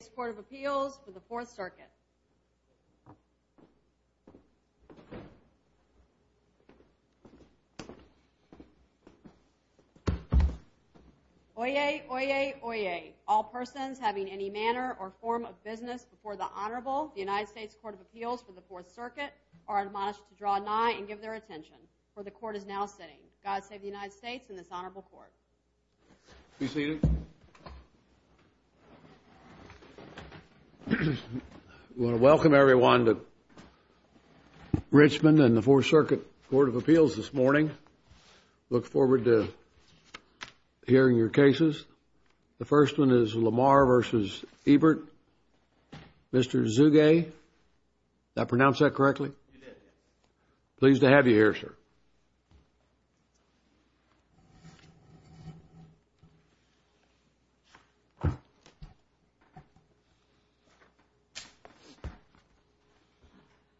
United States Court of Appeals for the Fourth Circuit. Oyez, oyez, oyez. All persons having any manner or form of business before the Honorable, the United States Court of Appeals for the Fourth Circuit, are admonished to draw nigh and give their attention. For the Court is now sitting. God save the United States and this Honorable Court. Be seated. I want to welcome everyone to Richmond and the Fourth Circuit Court of Appeals this morning. I look forward to hearing your cases. The first one is LaMar v. Ebert. Mr. Zuge, did I pronounce that correctly? You did, yes.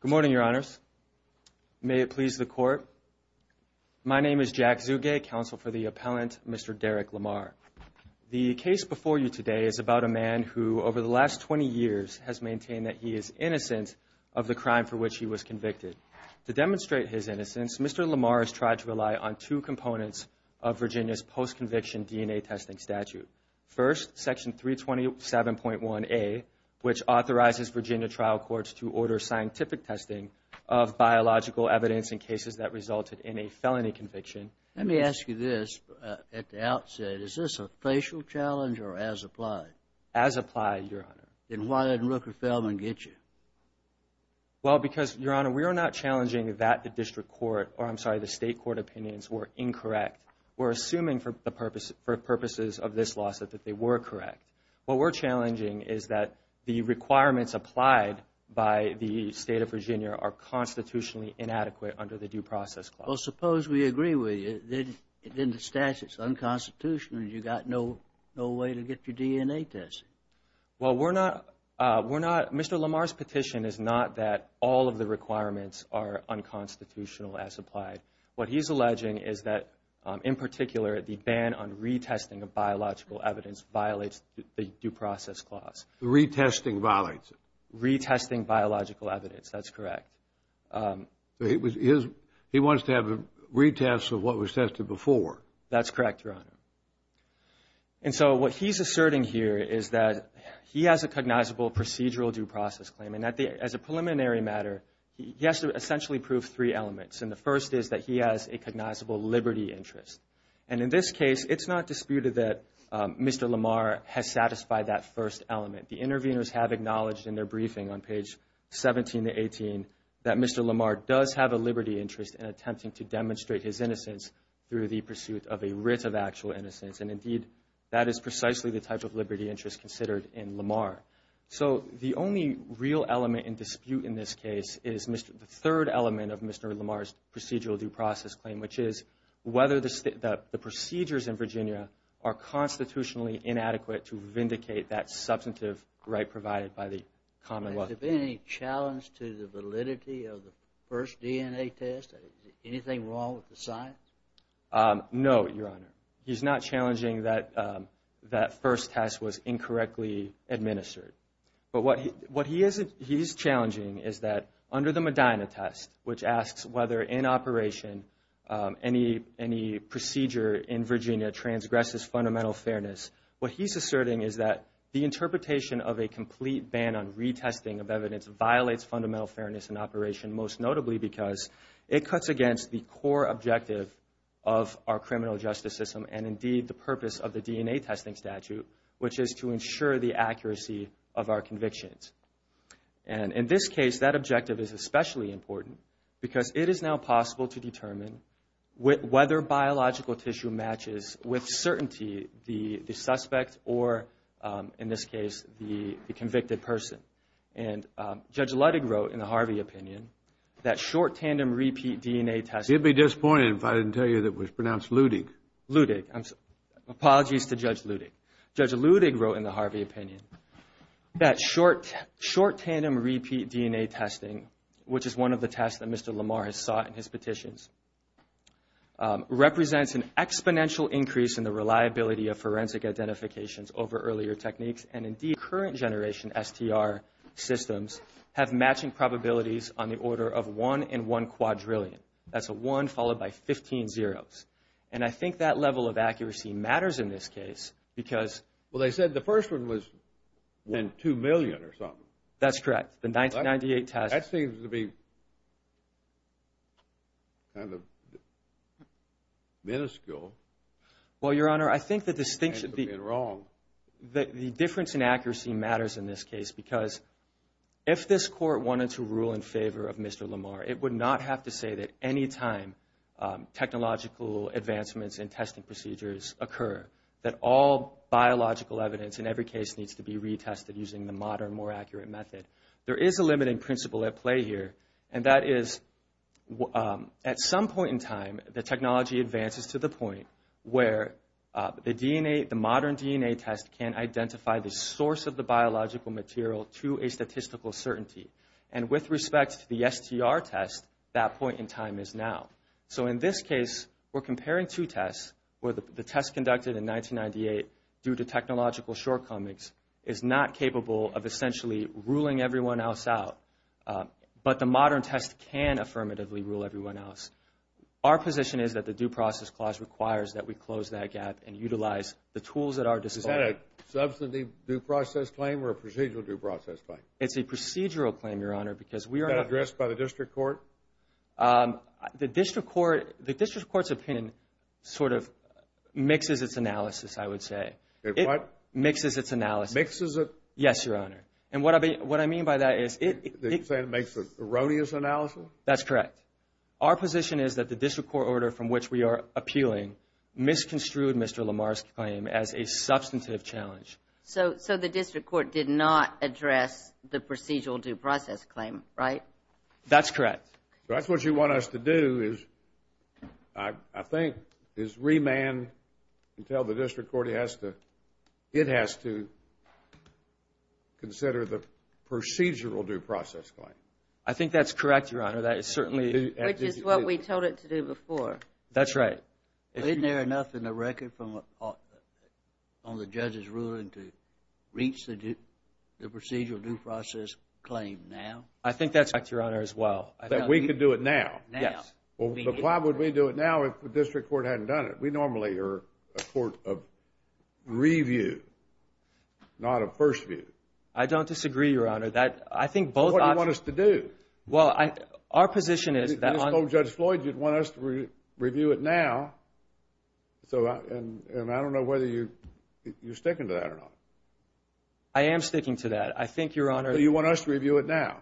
Good morning, Your Honors. May it please the Court. My name is Jack Zuge, counsel for the appellant, Mr. Derek LaMar. The case before you today is about a man who, over the last 20 years, has maintained that he is innocent of the crime for which he was convicted. To demonstrate his innocence, Mr. LaMar has tried to rely on two components of Virginia's post-conviction DNA testing statute. First, Section 327.1A, which authorizes Virginia trial courts to order scientific testing of biological evidence in cases that resulted in a felony conviction. Let me ask you this at the outset. Is this a facial challenge or as applied? As applied, Your Honor. Then why didn't Rooker-Feldman get you? Well, because, Your Honor, we are not challenging that the District Court, or I'm sorry, the State Court opinions were incorrect. We're assuming for purposes of this lawsuit that they were correct. What we're challenging is that the requirements applied by the State of Virginia are constitutionally inadequate under the Due Process Clause. Well, suppose we agree with you, then the statute is unconstitutional and you've got no way to get your DNA tested. Well, we're not, Mr. LaMar's petition is not that all of the requirements are unconstitutional as applied. What he's alleging is that, in particular, the ban on retesting of biological evidence violates the Due Process Clause. Retesting violates it. Retesting biological evidence, that's correct. He wants to have a retest of what was tested before. That's correct, Your Honor. And so what he's asserting here is that he has a cognizable procedural due process claim. And as a preliminary matter, he has to essentially prove three elements. And the first is that he has a cognizable liberty interest. And in this case, it's not disputed that Mr. LaMar has satisfied that first element. The interveners have acknowledged in their briefing on page 17 to 18 that Mr. LaMar does have a liberty interest in attempting to demonstrate his innocence through the pursuit of a writ of actual innocence. And, indeed, that is precisely the type of liberty interest considered in LaMar. So the only real element in dispute in this case is the third element of Mr. LaMar's procedural due process claim, which is whether the procedures in Virginia are constitutionally inadequate to vindicate that substantive right provided by the Commonwealth. Has there been any challenge to the validity of the first DNA test? Anything wrong with the science? No, Your Honor. He's not challenging that that first test was incorrectly administered. But what he is challenging is that under the Medina test, which asks whether in operation any procedure in Virginia transgresses fundamental fairness, what he's asserting is that the interpretation of a complete ban on retesting of evidence violates fundamental fairness in operation, most notably because it cuts against the core objective of our criminal justice system and, indeed, the purpose of the DNA testing statute, which is to ensure the accuracy of our convictions. And in this case, that objective is especially important because it is now possible to determine whether biological tissue matches with certainty the suspect or, in this case, the convicted person. And Judge Ludig wrote in the Harvey opinion that short tandem repeat DNA testing He'd be disappointed if I didn't tell you it was pronounced Ludig. Apologies to Judge Ludig. Judge Ludig wrote in the Harvey opinion that short tandem repeat DNA testing, which is one of the tests that Mr. LaMar has sought in his petitions, represents an exponential increase in the reliability of forensic identifications over earlier techniques, and, indeed, current generation STR systems have matching probabilities on the order of 1 in 1 quadrillion. That's a 1 followed by 15 zeros. And I think that level of accuracy matters in this case because Well, they said the first one was 2 million or something. That's correct. The 1998 test That seems to be kind of minuscule. Well, Your Honor, I think the distinction The difference in accuracy matters in this case because if this court wanted to rule in favor of Mr. LaMar, it would not have to say that any time technological advancements in testing procedures occur that all biological evidence in every case needs to be retested using the modern, more accurate method. There is a limiting principle at play here, and that is at some point in time, the technology advances to the point where the DNA, the modern DNA test can identify the source of the biological material to a statistical certainty. And with respect to the STR test, that point in time is now. So in this case, we're comparing two tests where the test conducted in 1998, due to technological shortcomings, is not capable of essentially ruling everyone else out. But the modern test can affirmatively rule everyone else. Our position is that the Due Process Clause requires that we close that gap and utilize the tools at our disposal. Is that a substantive due process claim or a procedural due process claim? It's a procedural claim, Your Honor, because we are Is that addressed by the district court? The district court's opinion sort of mixes its analysis, I would say. It what? Mixes its analysis. Mixes it? Yes, Your Honor. And what I mean by that is it You're saying it makes an erroneous analysis? That's correct. Our position is that the district court order from which we are appealing misconstrued Mr. Lamar's claim as a substantive challenge. So the district court did not address the procedural due process claim, right? That's correct. That's what you want us to do is, I think, is remand until the district court has to It has to consider the procedural due process claim. I think that's correct, Your Honor. That is certainly Which is what we told it to do before. That's right. Isn't there enough in the record from the judge's ruling to reach the procedural due process claim now? I think that's correct, Your Honor, as well. That we could do it now? Yes. Well, why would we do it now if the district court hadn't done it? We normally are a court of review, not of first view. I don't disagree, Your Honor. I think both options What do you want us to do? Well, our position is that You told Judge Floyd you'd want us to review it now. And I don't know whether you're sticking to that or not. I am sticking to that. I think, Your Honor Do you want us to review it now?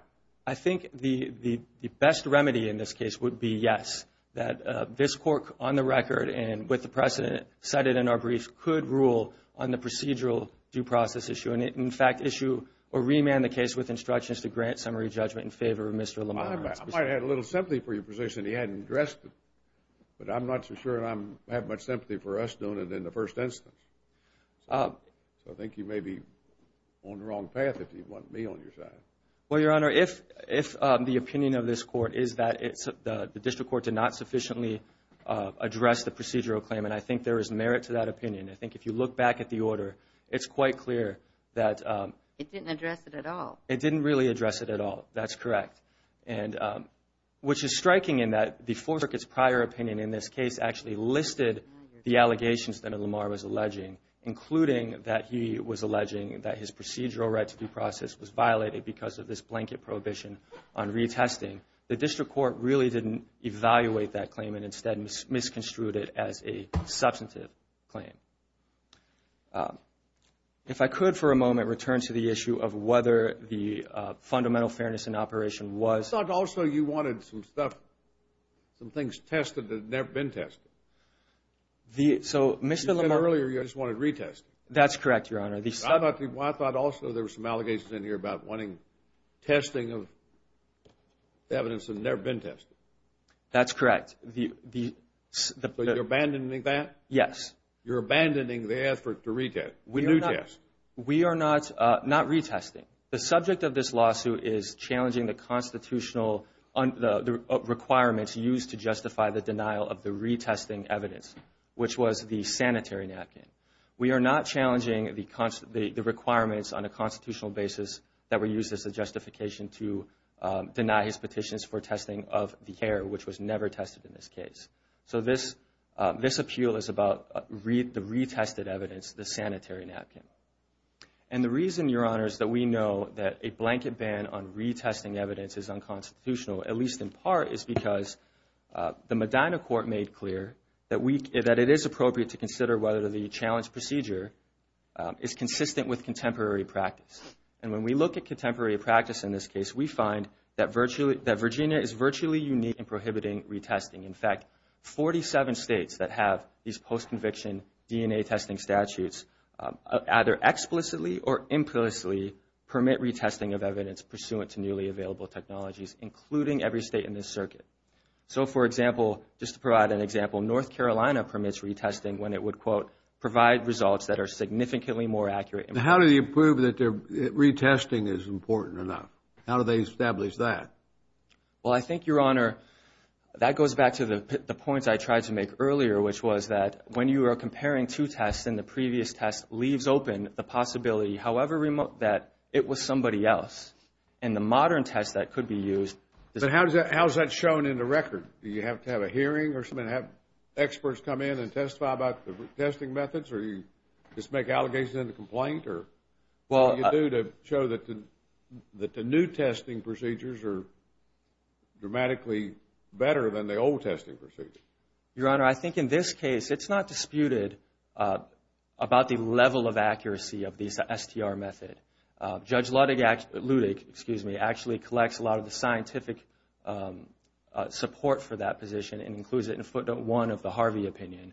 I think the best remedy in this case would be yes. That this court, on the record and with the precedent cited in our brief, could rule on the procedural due process issue. And, in fact, issue or remand the case with instructions to grant summary judgment in favor of Mr. Lamar. I might have had a little sympathy for your position. He hadn't addressed it. But I'm not so sure I have much sympathy for us doing it in the first instance. So I think you may be on the wrong path if you want me on your side. Well, Your Honor, if the opinion of this court is that the district court did not sufficiently address the procedural claim, and I think there is merit to that opinion, I think if you look back at the order, it's quite clear that It didn't address it at all. It didn't really address it at all. That's correct. Which is striking in that the four circuit's prior opinion in this case actually listed the allegations that Lamar was alleging, including that he was alleging that his procedural right to due process was violated because of this blanket prohibition on retesting. The district court really didn't evaluate that claim and instead misconstrued it as a substantive claim. If I could for a moment return to the issue of whether the fundamental fairness in operation was I thought also you wanted some stuff, some things tested that have never been tested. So Mr. Lamar You said earlier you just wanted retesting. That's correct, Your Honor. I thought also there were some allegations in here about wanting testing of evidence that has never been tested. That's correct. So you're abandoning that? Yes. You're abandoning the effort to retest? We are not retesting. The subject of this lawsuit is challenging the constitutional requirements used to justify the denial of the retesting evidence, which was the sanitary napkin. We are not challenging the requirements on a constitutional basis that were used as a justification to deny his petitions for testing of the hair, which was never tested in this case. So this appeal is about the retested evidence, the sanitary napkin. And the reason, Your Honor, is that we know that a blanket ban on retesting evidence is unconstitutional, at least in part is because the Medina court made clear that it is appropriate to consider whether the challenge procedure is consistent with contemporary practice. And when we look at contemporary practice in this case, we find that Virginia is virtually unique in prohibiting retesting. In fact, 47 states that have these post-conviction DNA testing statutes either explicitly or implicitly permit retesting of evidence pursuant to newly available technologies, including every state in this circuit. So, for example, just to provide an example, North Carolina permits retesting when it would, quote, provide results that are significantly more accurate. How do you prove that retesting is important enough? How do they establish that? Well, I think, Your Honor, that goes back to the points I tried to make earlier, which was that when you are comparing two tests and the previous test leaves open the possibility, however remote, that it was somebody else. In the modern test that could be used. But how is that shown in the record? Do you have to have a hearing or something to have experts come in and testify about the testing methods? Or do you just make allegations in the complaint? Or what do you do to show that the new testing procedures are dramatically better than the old testing procedures? Your Honor, I think in this case it's not disputed about the level of accuracy of the STR method. Judge Ludwig actually collects a lot of the scientific support for that position and includes it in footnote one of the Harvey opinion.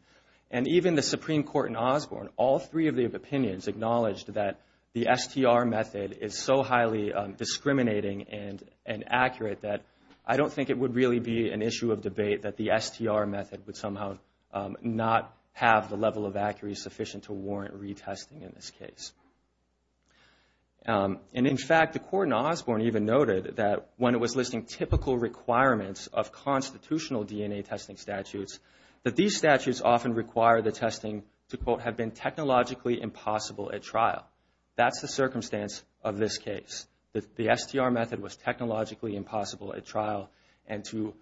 And even the Supreme Court in Osborne, all three of the opinions acknowledged that the STR method is so highly discriminating and inaccurate that I don't think it would really be an issue of debate that the STR method would somehow not have the level of accuracy sufficient to warrant retesting in this case. And, in fact, the court in Osborne even noted that when it was listing typical requirements of constitutional DNA testing statutes, that these statutes often require the testing to, quote, have been technologically impossible at trial. That's the circumstance of this case. The STR method was technologically impossible at trial and to-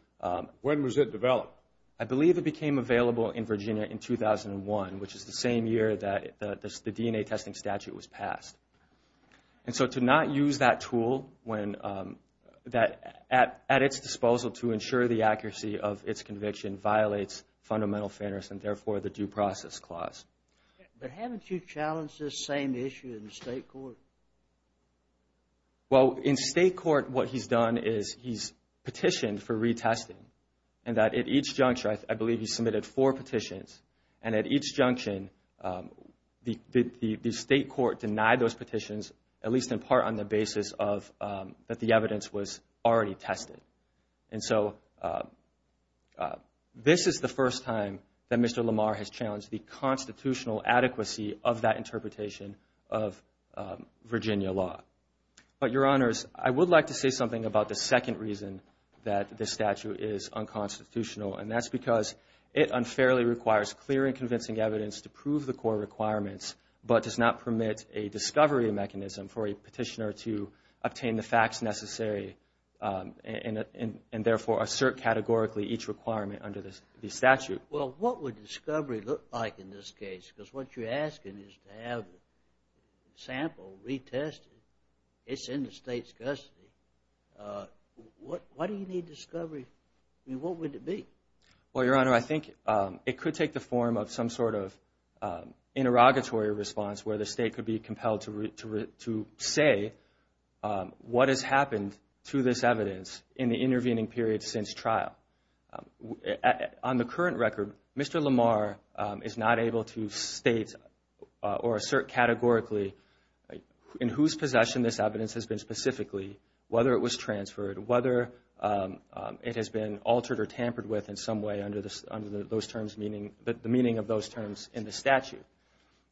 When was it developed? I believe it became available in Virginia in 2001, which is the same year that the DNA testing statute was passed. And so to not use that tool at its disposal to ensure the accuracy of its conviction violates fundamental fairness and, therefore, the due process clause. But haven't you challenged this same issue in the state court? Well, in state court, what he's done is he's petitioned for retesting and that at each juncture, I believe he submitted four petitions, and at each junction, the state court denied those petitions, at least in part on the basis that the evidence was already tested. And so this is the first time that Mr. Lamar has challenged the constitutional adequacy of that interpretation of Virginia law. But, Your Honors, I would like to say something about the second reason that this statute is unconstitutional, and that's because it unfairly requires clear and convincing evidence to prove the core requirements, but does not permit a discovery mechanism for a petitioner to obtain the facts necessary and, therefore, assert categorically each requirement under the statute. Well, what would discovery look like in this case? Because what you're asking is to have a sample retested. It's in the state's custody. Why do you need discovery? I mean, what would it be? Well, Your Honor, I think it could take the form of some sort of interrogatory response where the state could be compelled to say what has happened to this evidence in the intervening period since trial. On the current record, Mr. Lamar is not able to state or assert categorically in whose possession this evidence has been specifically, whether it was transferred, whether it has been altered or tampered with in some way under the meaning of those terms in the statute.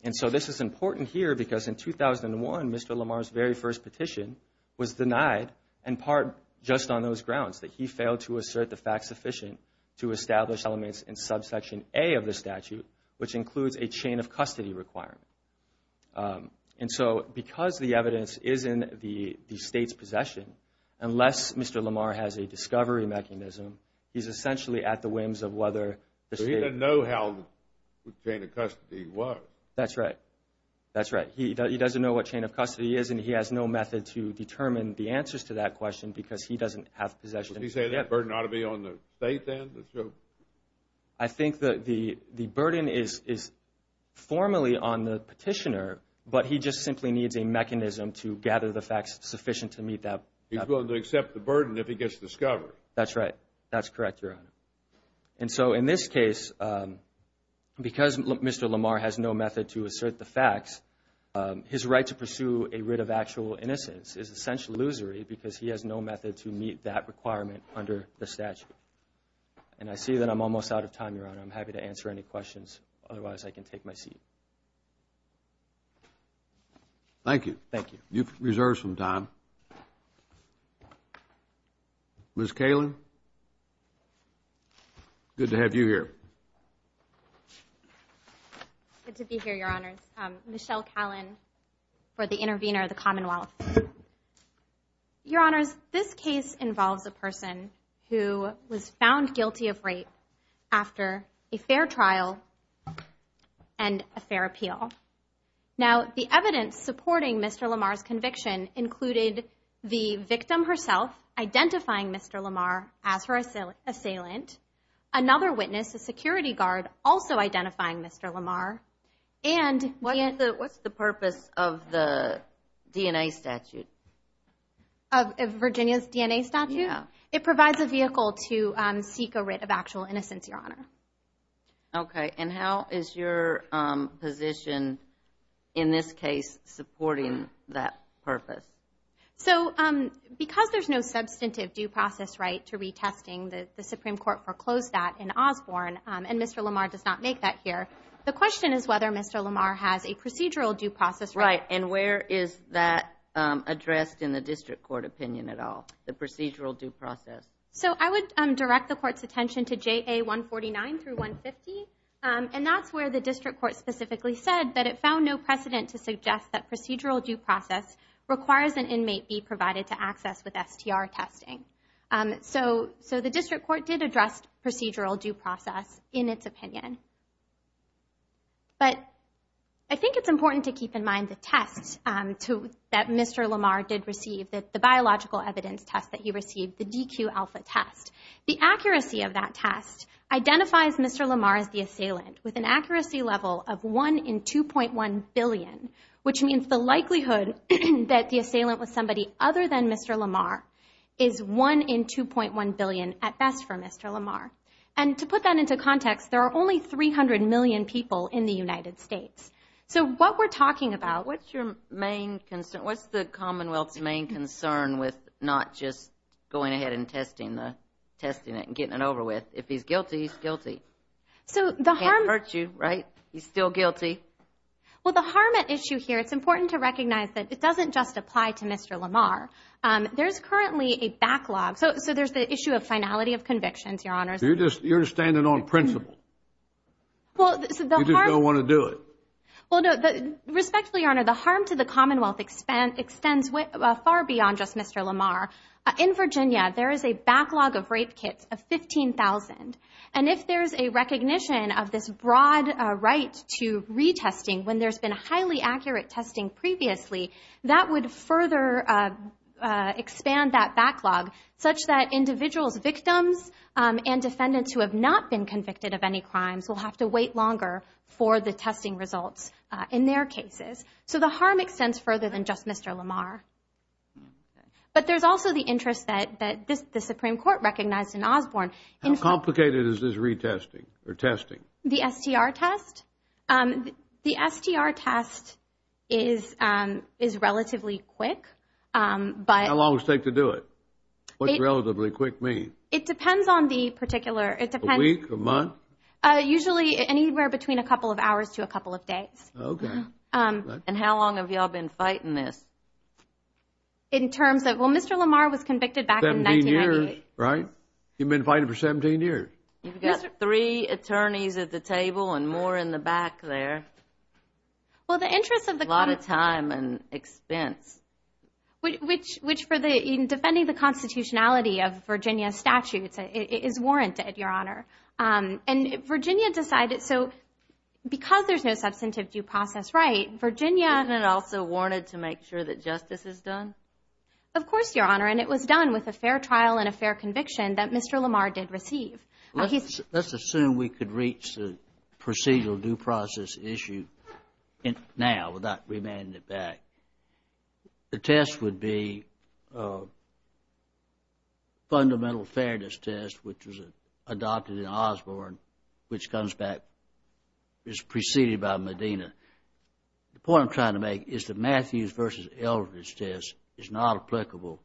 And so this is important here because in 2001, Mr. Lamar's very first petition was denied in part just on those grounds, that he failed to assert the facts sufficient to establish elements in subsection A of the statute, which includes a chain of custody requirement. And so because the evidence is in the state's possession, unless Mr. Lamar has a discovery mechanism, he's essentially at the whims of whether the state… So he doesn't know how the chain of custody works. That's right. That's right. He doesn't know what chain of custody is, and he has no method to determine the answers to that question because he doesn't have possession. Would you say that burden ought to be on the state then? I think that the burden is formally on the petitioner, but he just simply needs a mechanism to gather the facts sufficient to meet that. He's willing to accept the burden if he gets discovered. That's right. That's correct, Your Honor. And so in this case, because Mr. Lamar has no method to assert the facts, his right to pursue a writ of actual innocence is essentially illusory because he has no method to meet that requirement under the statute. And I see that I'm almost out of time, Your Honor. I'm happy to answer any questions. Otherwise, I can take my seat. Thank you. Thank you. You've reserved some time. Ms. Kalin, good to have you here. Good to be here, Your Honors. Michelle Kalin for the intervener of the Commonwealth. Your Honors, this case involves a person who was found guilty of rape after a fair trial and a fair appeal. Now, the evidence supporting Mr. Lamar's conviction included the victim herself identifying Mr. Lamar as her assailant, another witness, a security guard, also identifying Mr. Lamar. What's the purpose of the DNA statute? Virginia's DNA statute? Yeah. It provides a vehicle to seek a writ of actual innocence, Your Honor. Okay. And how is your position in this case supporting that purpose? So because there's no substantive due process right to retesting, the Supreme Court foreclosed that in Osborne, and Mr. Lamar does not make that here. The question is whether Mr. Lamar has a procedural due process right. Right. And where is that addressed in the district court opinion at all, the procedural due process? So I would direct the Court's attention to JA 149 through 150, and that's where the district court specifically said that it found no precedent to suggest that procedural due process requires an inmate be provided to access with STR testing. So the district court did address procedural due process in its opinion. But I think it's important to keep in mind the test that Mr. Lamar did receive, the biological evidence test that he received, the DQ alpha test. The accuracy of that test identifies Mr. Lamar as the assailant with an accuracy level of 1 in 2.1 billion, which means the likelihood that the assailant was somebody other than Mr. Lamar is 1 in 2.1 billion at best for Mr. Lamar. And to put that into context, there are only 300 million people in the United States. So what we're talking about. What's your main concern? What's the Commonwealth's main concern with not just going ahead and testing it and getting it over with? If he's guilty, he's guilty. He can't hurt you, right? He's still guilty. Well, the harm at issue here, it's important to recognize that it doesn't just apply to Mr. Lamar. There's currently a backlog. So there's the issue of finality of convictions, Your Honors. You're standing on principle. You just don't want to do it. Respectfully, Your Honor, the harm to the Commonwealth extends far beyond just Mr. Lamar. In Virginia, there is a backlog of rape kits of 15,000. And if there's a recognition of this broad right to retesting when there's been highly accurate testing previously, that would further expand that backlog such that individuals, victims, and defendants who have not been convicted of any crimes will have to wait longer for the testing results in their cases. So the harm extends further than just Mr. Lamar. But there's also the interest that the Supreme Court recognized in Osborne. How complicated is this retesting or testing? The STR test? The STR test is relatively quick. How long does it take to do it? What does relatively quick mean? It depends on the particular. A week, a month? Usually anywhere between a couple of hours to a couple of days. Okay. And how long have you all been fighting this? In terms of, well, Mr. Lamar was convicted back in 1998. Right. You've been fighting for 17 years. You've got three attorneys at the table and more in the back there. Well, the interest of the court. A lot of time and expense. Which for defending the constitutionality of Virginia statutes is warranted, Your Honor. And Virginia decided, so because there's no substantive due process right, Virginia. Isn't it also warranted to make sure that justice is done? Of course, Your Honor. And it was done with a fair trial and a fair conviction that Mr. Lamar did receive. Let's assume we could reach the procedural due process issue now without remanding it back. The test would be fundamental fairness test, which was adopted in Osborne, which comes back, is preceded by Medina. The point I'm trying to make is the Matthews versus Eldredge test is not applicable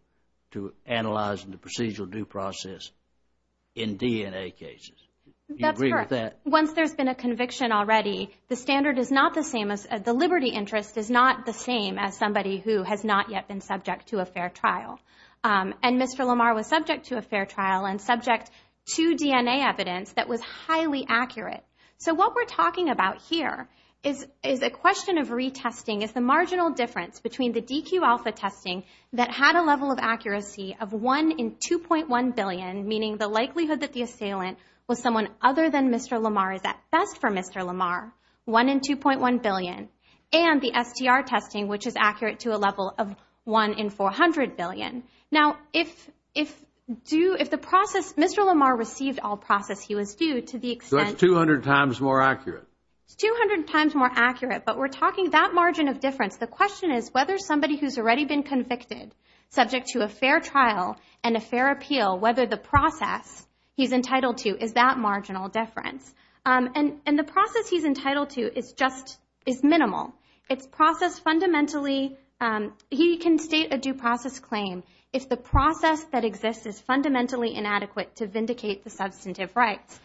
to analyzing the procedural due process in DNA cases. Do you agree with that? That's correct. Once there's been a conviction already, the standard is not the same as, the liberty interest is not the same as somebody who has not yet been subject to a fair trial. And Mr. Lamar was subject to a fair trial and subject to DNA evidence that was highly accurate. So what we're talking about here is a question of retesting. Retesting is the marginal difference between the DQ alpha testing that had a level of accuracy of 1 in 2.1 billion, meaning the likelihood that the assailant was someone other than Mr. Lamar is at best for Mr. Lamar, 1 in 2.1 billion. And the STR testing, which is accurate to a level of 1 in 400 billion. Now, if the process, Mr. Lamar received all process he was due to the extent So it's 200 times more accurate? It's 200 times more accurate. But we're talking about margin of difference. The question is whether somebody who's already been convicted, subject to a fair trial and a fair appeal, whether the process he's entitled to, is that marginal difference. And the process he's entitled to is minimal. It's processed fundamentally. He can state a due process claim if the process that exists is fundamentally inadequate to vindicate the substantive rights.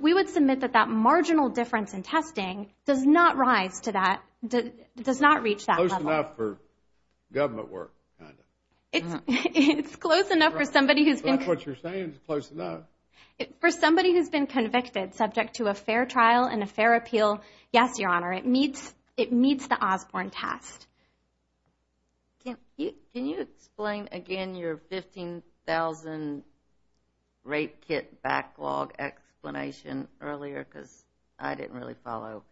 We would submit that that marginal difference in testing does not rise to that, does not reach that level. Close enough for government work, kind of. It's close enough for somebody who's been So that's what you're saying, it's close enough. For somebody who's been convicted, subject to a fair trial and a fair appeal, yes, Your Honor, it meets the Osborne test. Can you explain again your 15,000 rape kit backlog explanation earlier? Because I didn't really follow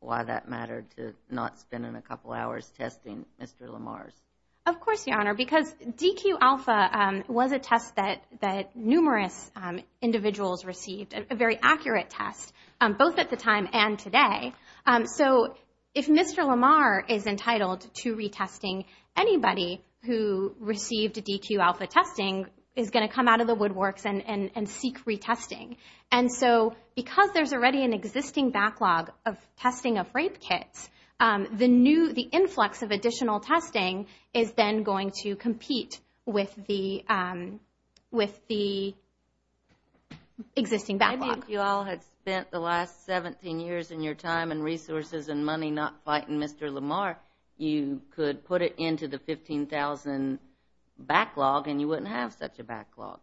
why that mattered to not spending a couple hours testing Mr. Lamar's. Of course, Your Honor, because DQ Alpha was a test that numerous individuals received, a very accurate test, both at the time and today. So if Mr. Lamar is entitled to retesting, anybody who received DQ Alpha testing is going to come out of the woodworks and seek retesting. And so because there's already an existing backlog of testing of rape kits, the influx of additional testing is then going to compete with the existing backlog. If you all had spent the last 17 years in your time and resources and money not fighting Mr. Lamar, you could put it into the 15,000 backlog and you wouldn't have such a backlog.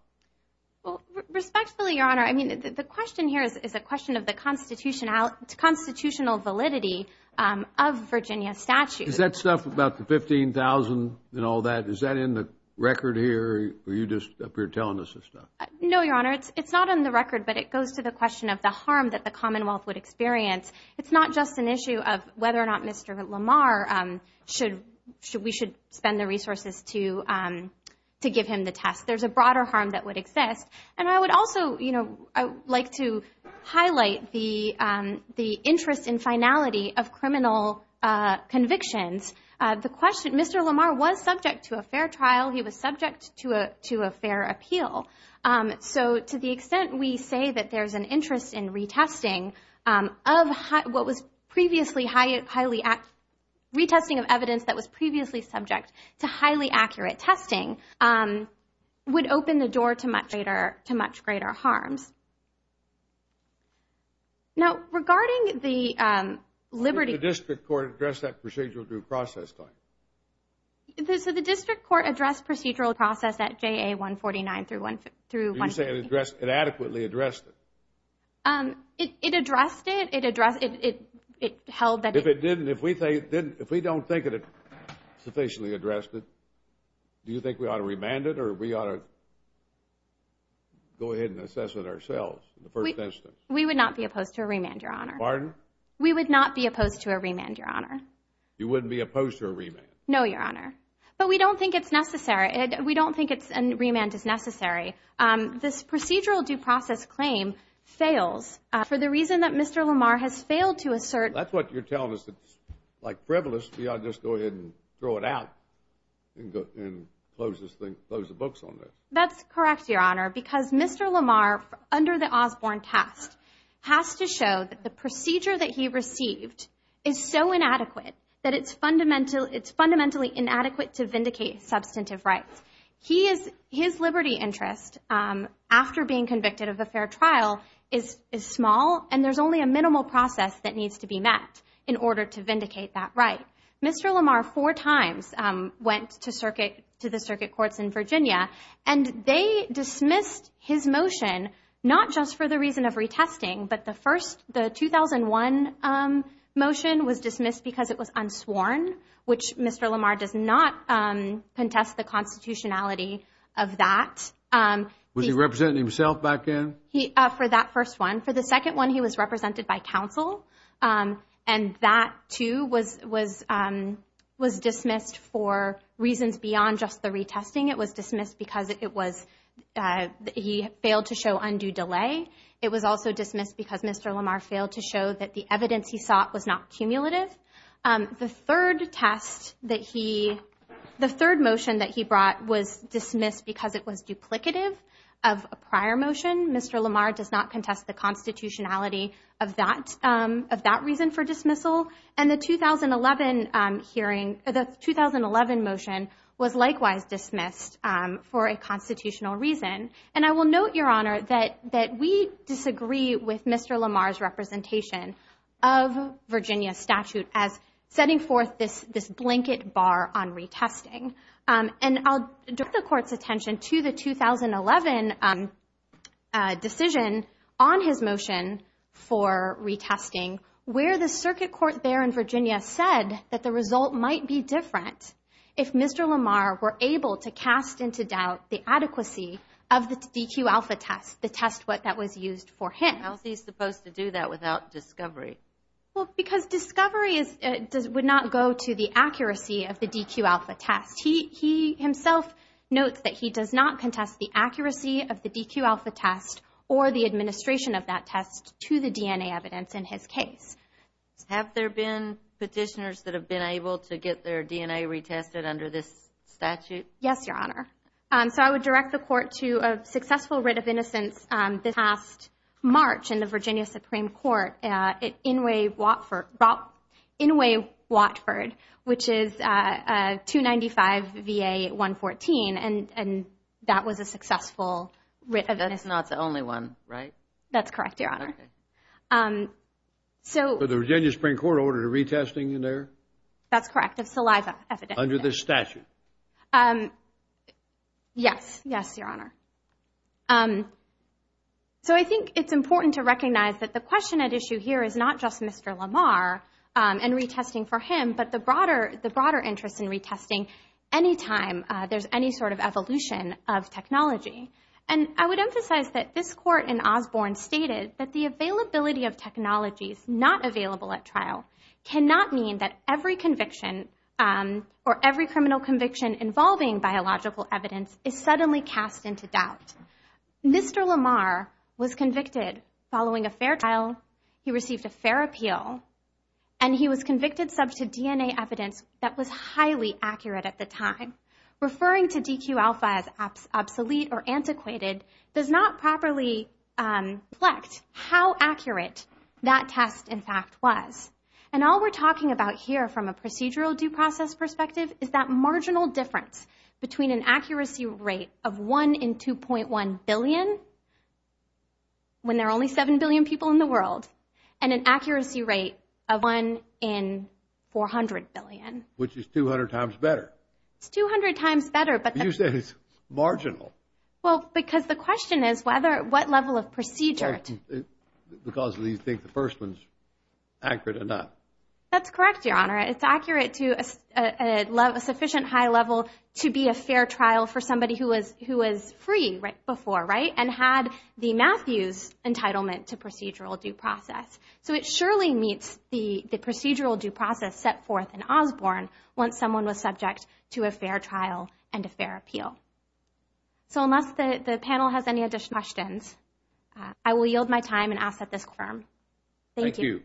Well, respectfully, Your Honor, I mean, the question here is a question of the constitutional validity of Virginia statutes. Is that stuff about the 15,000 and all that, is that in the record here, or are you just up here telling us this stuff? No, Your Honor, it's not in the record, but it goes to the question of the harm that the Commonwealth would experience. It's not just an issue of whether or not Mr. Lamar should spend the resources to give him the test. There's a broader harm that would exist. And I would also like to highlight the interest in finality of criminal convictions. Mr. Lamar was subject to a fair trial. He was subject to a fair appeal. So to the extent we say that there's an interest in retesting of what was previously highly accurate, retesting of evidence that was previously subject to highly accurate testing would open the door to much greater harms. Now, regarding the liberty of the district court to address that procedural due process, so the district court addressed procedural process at JA 149 through 150. You're saying it adequately addressed it? It addressed it. If we don't think it sufficiently addressed it, do you think we ought to remand it or we ought to go ahead and assess it ourselves in the first instance? We would not be opposed to a remand, Your Honor. We would not be opposed to a remand, Your Honor. You wouldn't be opposed to a remand? No, Your Honor. But we don't think it's necessary. We don't think a remand is necessary. This procedural due process claim fails for the reason that Mr. Lamar has failed to assert. That's what you're telling us. It's like frivolous. We ought to just go ahead and throw it out and close the books on this. That's correct, Your Honor, because Mr. Lamar, under the Osborne test, has to show that the procedure that he received is so inadequate that it's fundamentally inadequate to vindicate substantive rights. His liberty interest after being convicted of a fair trial is small, and there's only a minimal process that needs to be met in order to vindicate that right. Mr. Lamar four times went to the circuit courts in Virginia, and they dismissed his motion not just for the reason of retesting, but the 2001 motion was dismissed because it was unsworn, which Mr. Lamar does not contest the constitutionality of that. Was he representing himself back then? For that first one. For the second one, he was represented by counsel, and that, too, was dismissed for reasons beyond just the retesting. It was dismissed because he failed to show undue delay. It was also dismissed because Mr. Lamar failed to show that the evidence he sought was not cumulative. The third motion that he brought was dismissed because it was duplicative of a prior motion. Mr. Lamar does not contest the constitutionality of that reason for dismissal, and the 2011 motion was likewise dismissed for a constitutional reason. And I will note, Your Honor, that we disagree with Mr. Lamar's representation of Virginia statute as setting forth this blanket bar on retesting. And I'll direct the Court's attention to the 2011 decision on his motion for retesting where the circuit court there in Virginia said that the result might be different if Mr. Lamar were able to cast into doubt the adequacy of the DQ-alpha test, the test that was used for him. How is he supposed to do that without discovery? Because discovery would not go to the accuracy of the DQ-alpha test. He himself notes that he does not contest the accuracy of the DQ-alpha test or the administration of that test to the DNA evidence in his case. Have there been petitioners that have been able to get their DNA retested under this statute? Yes, Your Honor. So I would direct the Court to a successful writ of innocence this past March in the Virginia Supreme Court at Inouye, Watford, which is 295 VA 114, and that was a successful writ of innocence. Saliva is not the only one, right? That's correct, Your Honor. So the Virginia Supreme Court ordered a retesting in there? That's correct, of saliva evidence. Under this statute? Yes, yes, Your Honor. So I think it's important to recognize that the question at issue here is not just Mr. Lamar and retesting for him, but the broader interest in retesting any time there's any sort of evolution of technology. And I would emphasize that this Court in Osborne stated that the availability of technologies not available at trial cannot mean that every conviction or every criminal conviction involving biological evidence is suddenly cast into doubt. Mr. Lamar was convicted following a fair trial. He received a fair appeal, and he was convicted subject to DNA evidence that was highly accurate at the time. Referring to Deque Alpha as obsolete or antiquated does not properly reflect how accurate that test, in fact, was. And all we're talking about here from a procedural due process perspective is that marginal difference between an accuracy rate of 1 in 2.1 billion, when there are only 7 billion people in the world, and an accuracy rate of 1 in 400 billion. Which is 200 times better. It's 200 times better. But you said it's marginal. Well, because the question is what level of procedure. Because we think the first one's accurate enough. That's correct, Your Honor. It's accurate to a sufficient high level to be a fair trial for somebody who was free before, right, and had the Matthews entitlement to procedural due process. So it surely meets the procedural due process set forth in Osborne once someone was subject to a fair trial and a fair appeal. So unless the panel has any additional questions, I will yield my time and ask that this confirm. Thank you. Thank you.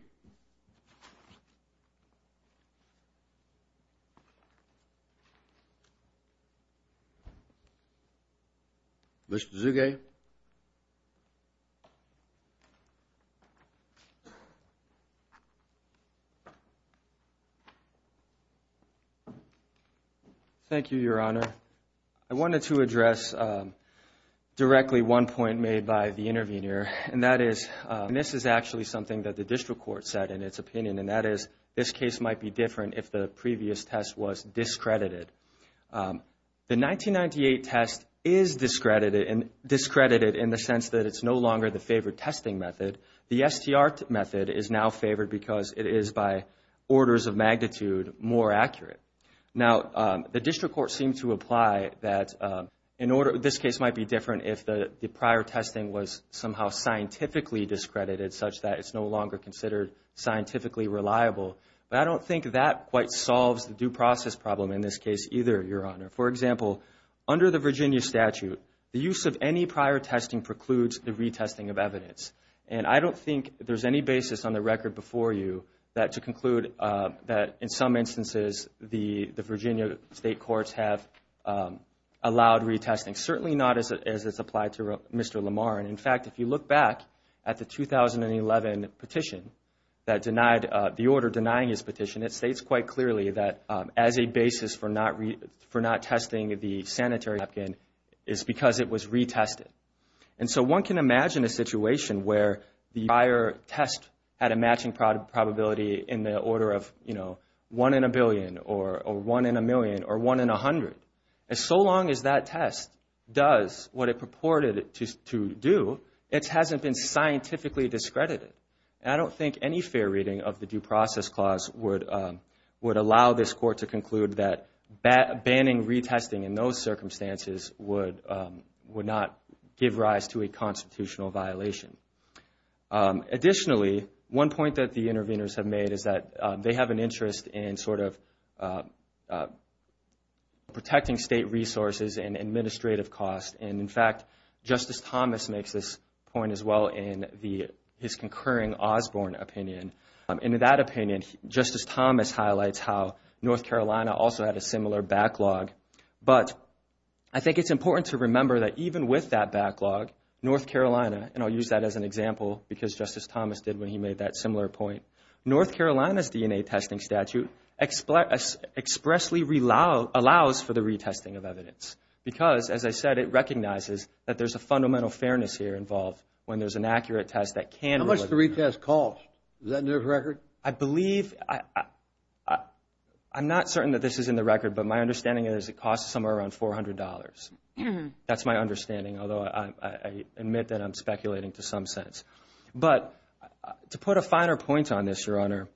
Mr. Zuge. Thank you, Your Honor. I wanted to address directly one point made by the intervener, and that is this is actually something that the district court said in its opinion, and that is this case might be different if the previous test was discredited. The 1998 test is discredited in the sense that it's no longer the favored testing method. The STR method is now favored because it is by orders of magnitude more accurate. Now, the district court seemed to apply that this case might be different if the prior testing was somehow scientifically discredited, such that it's no longer considered scientifically reliable. But I don't think that quite solves the due process problem in this case either, Your Honor. For example, under the Virginia statute, the use of any prior testing precludes the retesting of evidence, and I don't think there's any basis on the record before you that to conclude that in some instances the Virginia state courts have allowed retesting, certainly not as it's applied to Mr. Lamar. And, in fact, if you look back at the 2011 petition that denied the order denying his petition, it states quite clearly that as a basis for not testing the sanitary napkin is because it was retested. And so one can imagine a situation where the prior test had a matching probability in the order of, you know, one in a billion or one in a million or one in a hundred. And so long as that test does what it purported it to do, it hasn't been scientifically discredited. And I don't think any fair reading of the due process clause would allow this court to conclude that banning retesting in those circumstances would not give rise to a constitutional violation. Additionally, one point that the interveners have made is that they have an interest in sort of protecting state resources and administrative costs. And, in fact, Justice Thomas makes this point as well in his concurring Osborne opinion. And in that opinion, Justice Thomas highlights how North Carolina also had a similar backlog. But I think it's important to remember that even with that backlog, North Carolina, and I'll use that as an example because Justice Thomas did when he made that similar point, North Carolina's DNA testing statute expressly allows for the retesting of evidence because, as I said, it recognizes that there's a fundamental fairness here involved when there's an accurate test that can. How much does the retest cost? Is that in your record? I believe I'm not certain that this is in the record, but my understanding is it costs somewhere around $400. That's my understanding, although I admit that I'm speculating to some sense. But to put a finer point on this, Your Honor,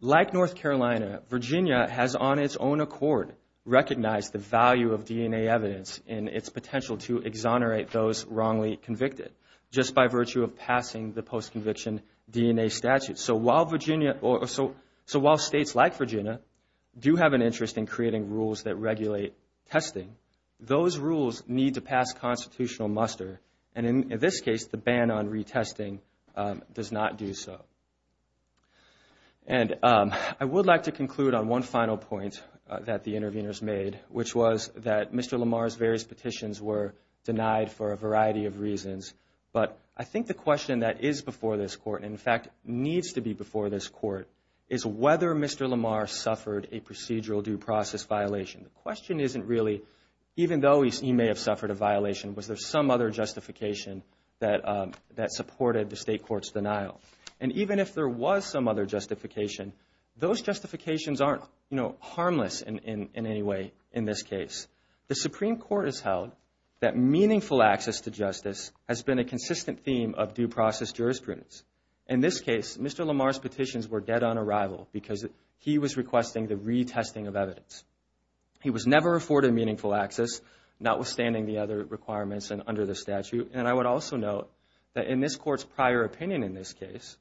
like North Carolina, Virginia has on its own accord recognized the value of DNA evidence and its potential to exonerate those wrongly convicted just by virtue of passing the post-conviction DNA statute. So while states like Virginia do have an interest in creating rules that regulate testing, those rules need to pass constitutional muster. And in this case, the ban on retesting does not do so. And I would like to conclude on one final point that the interveners made, which was that Mr. Lamar's various petitions were denied for a variety of reasons. But I think the question that is before this Court, and in fact needs to be before this Court, is whether Mr. Lamar suffered a procedural due process violation. The question isn't really, even though he may have suffered a violation, was there some other justification that supported the state court's denial. And even if there was some other justification, those justifications aren't harmless in any way in this case. The Supreme Court has held that meaningful access to justice has been a consistent theme of due process jurisprudence. In this case, Mr. Lamar's petitions were dead on arrival because he was requesting the retesting of evidence. He was never afforded meaningful access, notwithstanding the other requirements under the statute. And I would also note that in this Court's prior opinion in this case,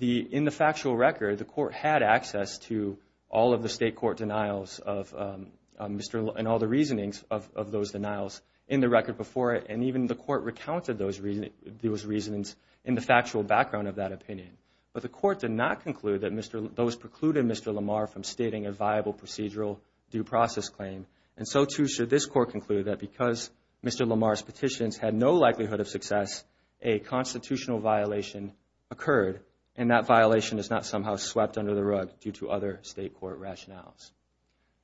in the factual record, the Court had access to all of the state court denials and all the reasonings of those denials in the record before it. And even the Court recounted those reasons in the factual background of that opinion. But the Court did not conclude that those precluded Mr. Lamar from stating a viable procedural due process claim. And so, too, should this Court conclude that because Mr. Lamar's petitions had no likelihood of success, a constitutional violation occurred, and that violation is not somehow swept under the rug due to other state court rationales.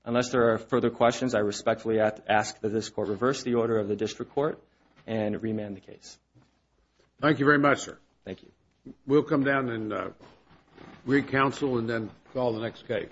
Unless there are further questions, I respectfully ask that this Court reverse the order of the district court and remand the case. Thank you very much, sir. Thank you. We'll come down and re-counsel and then call the next case.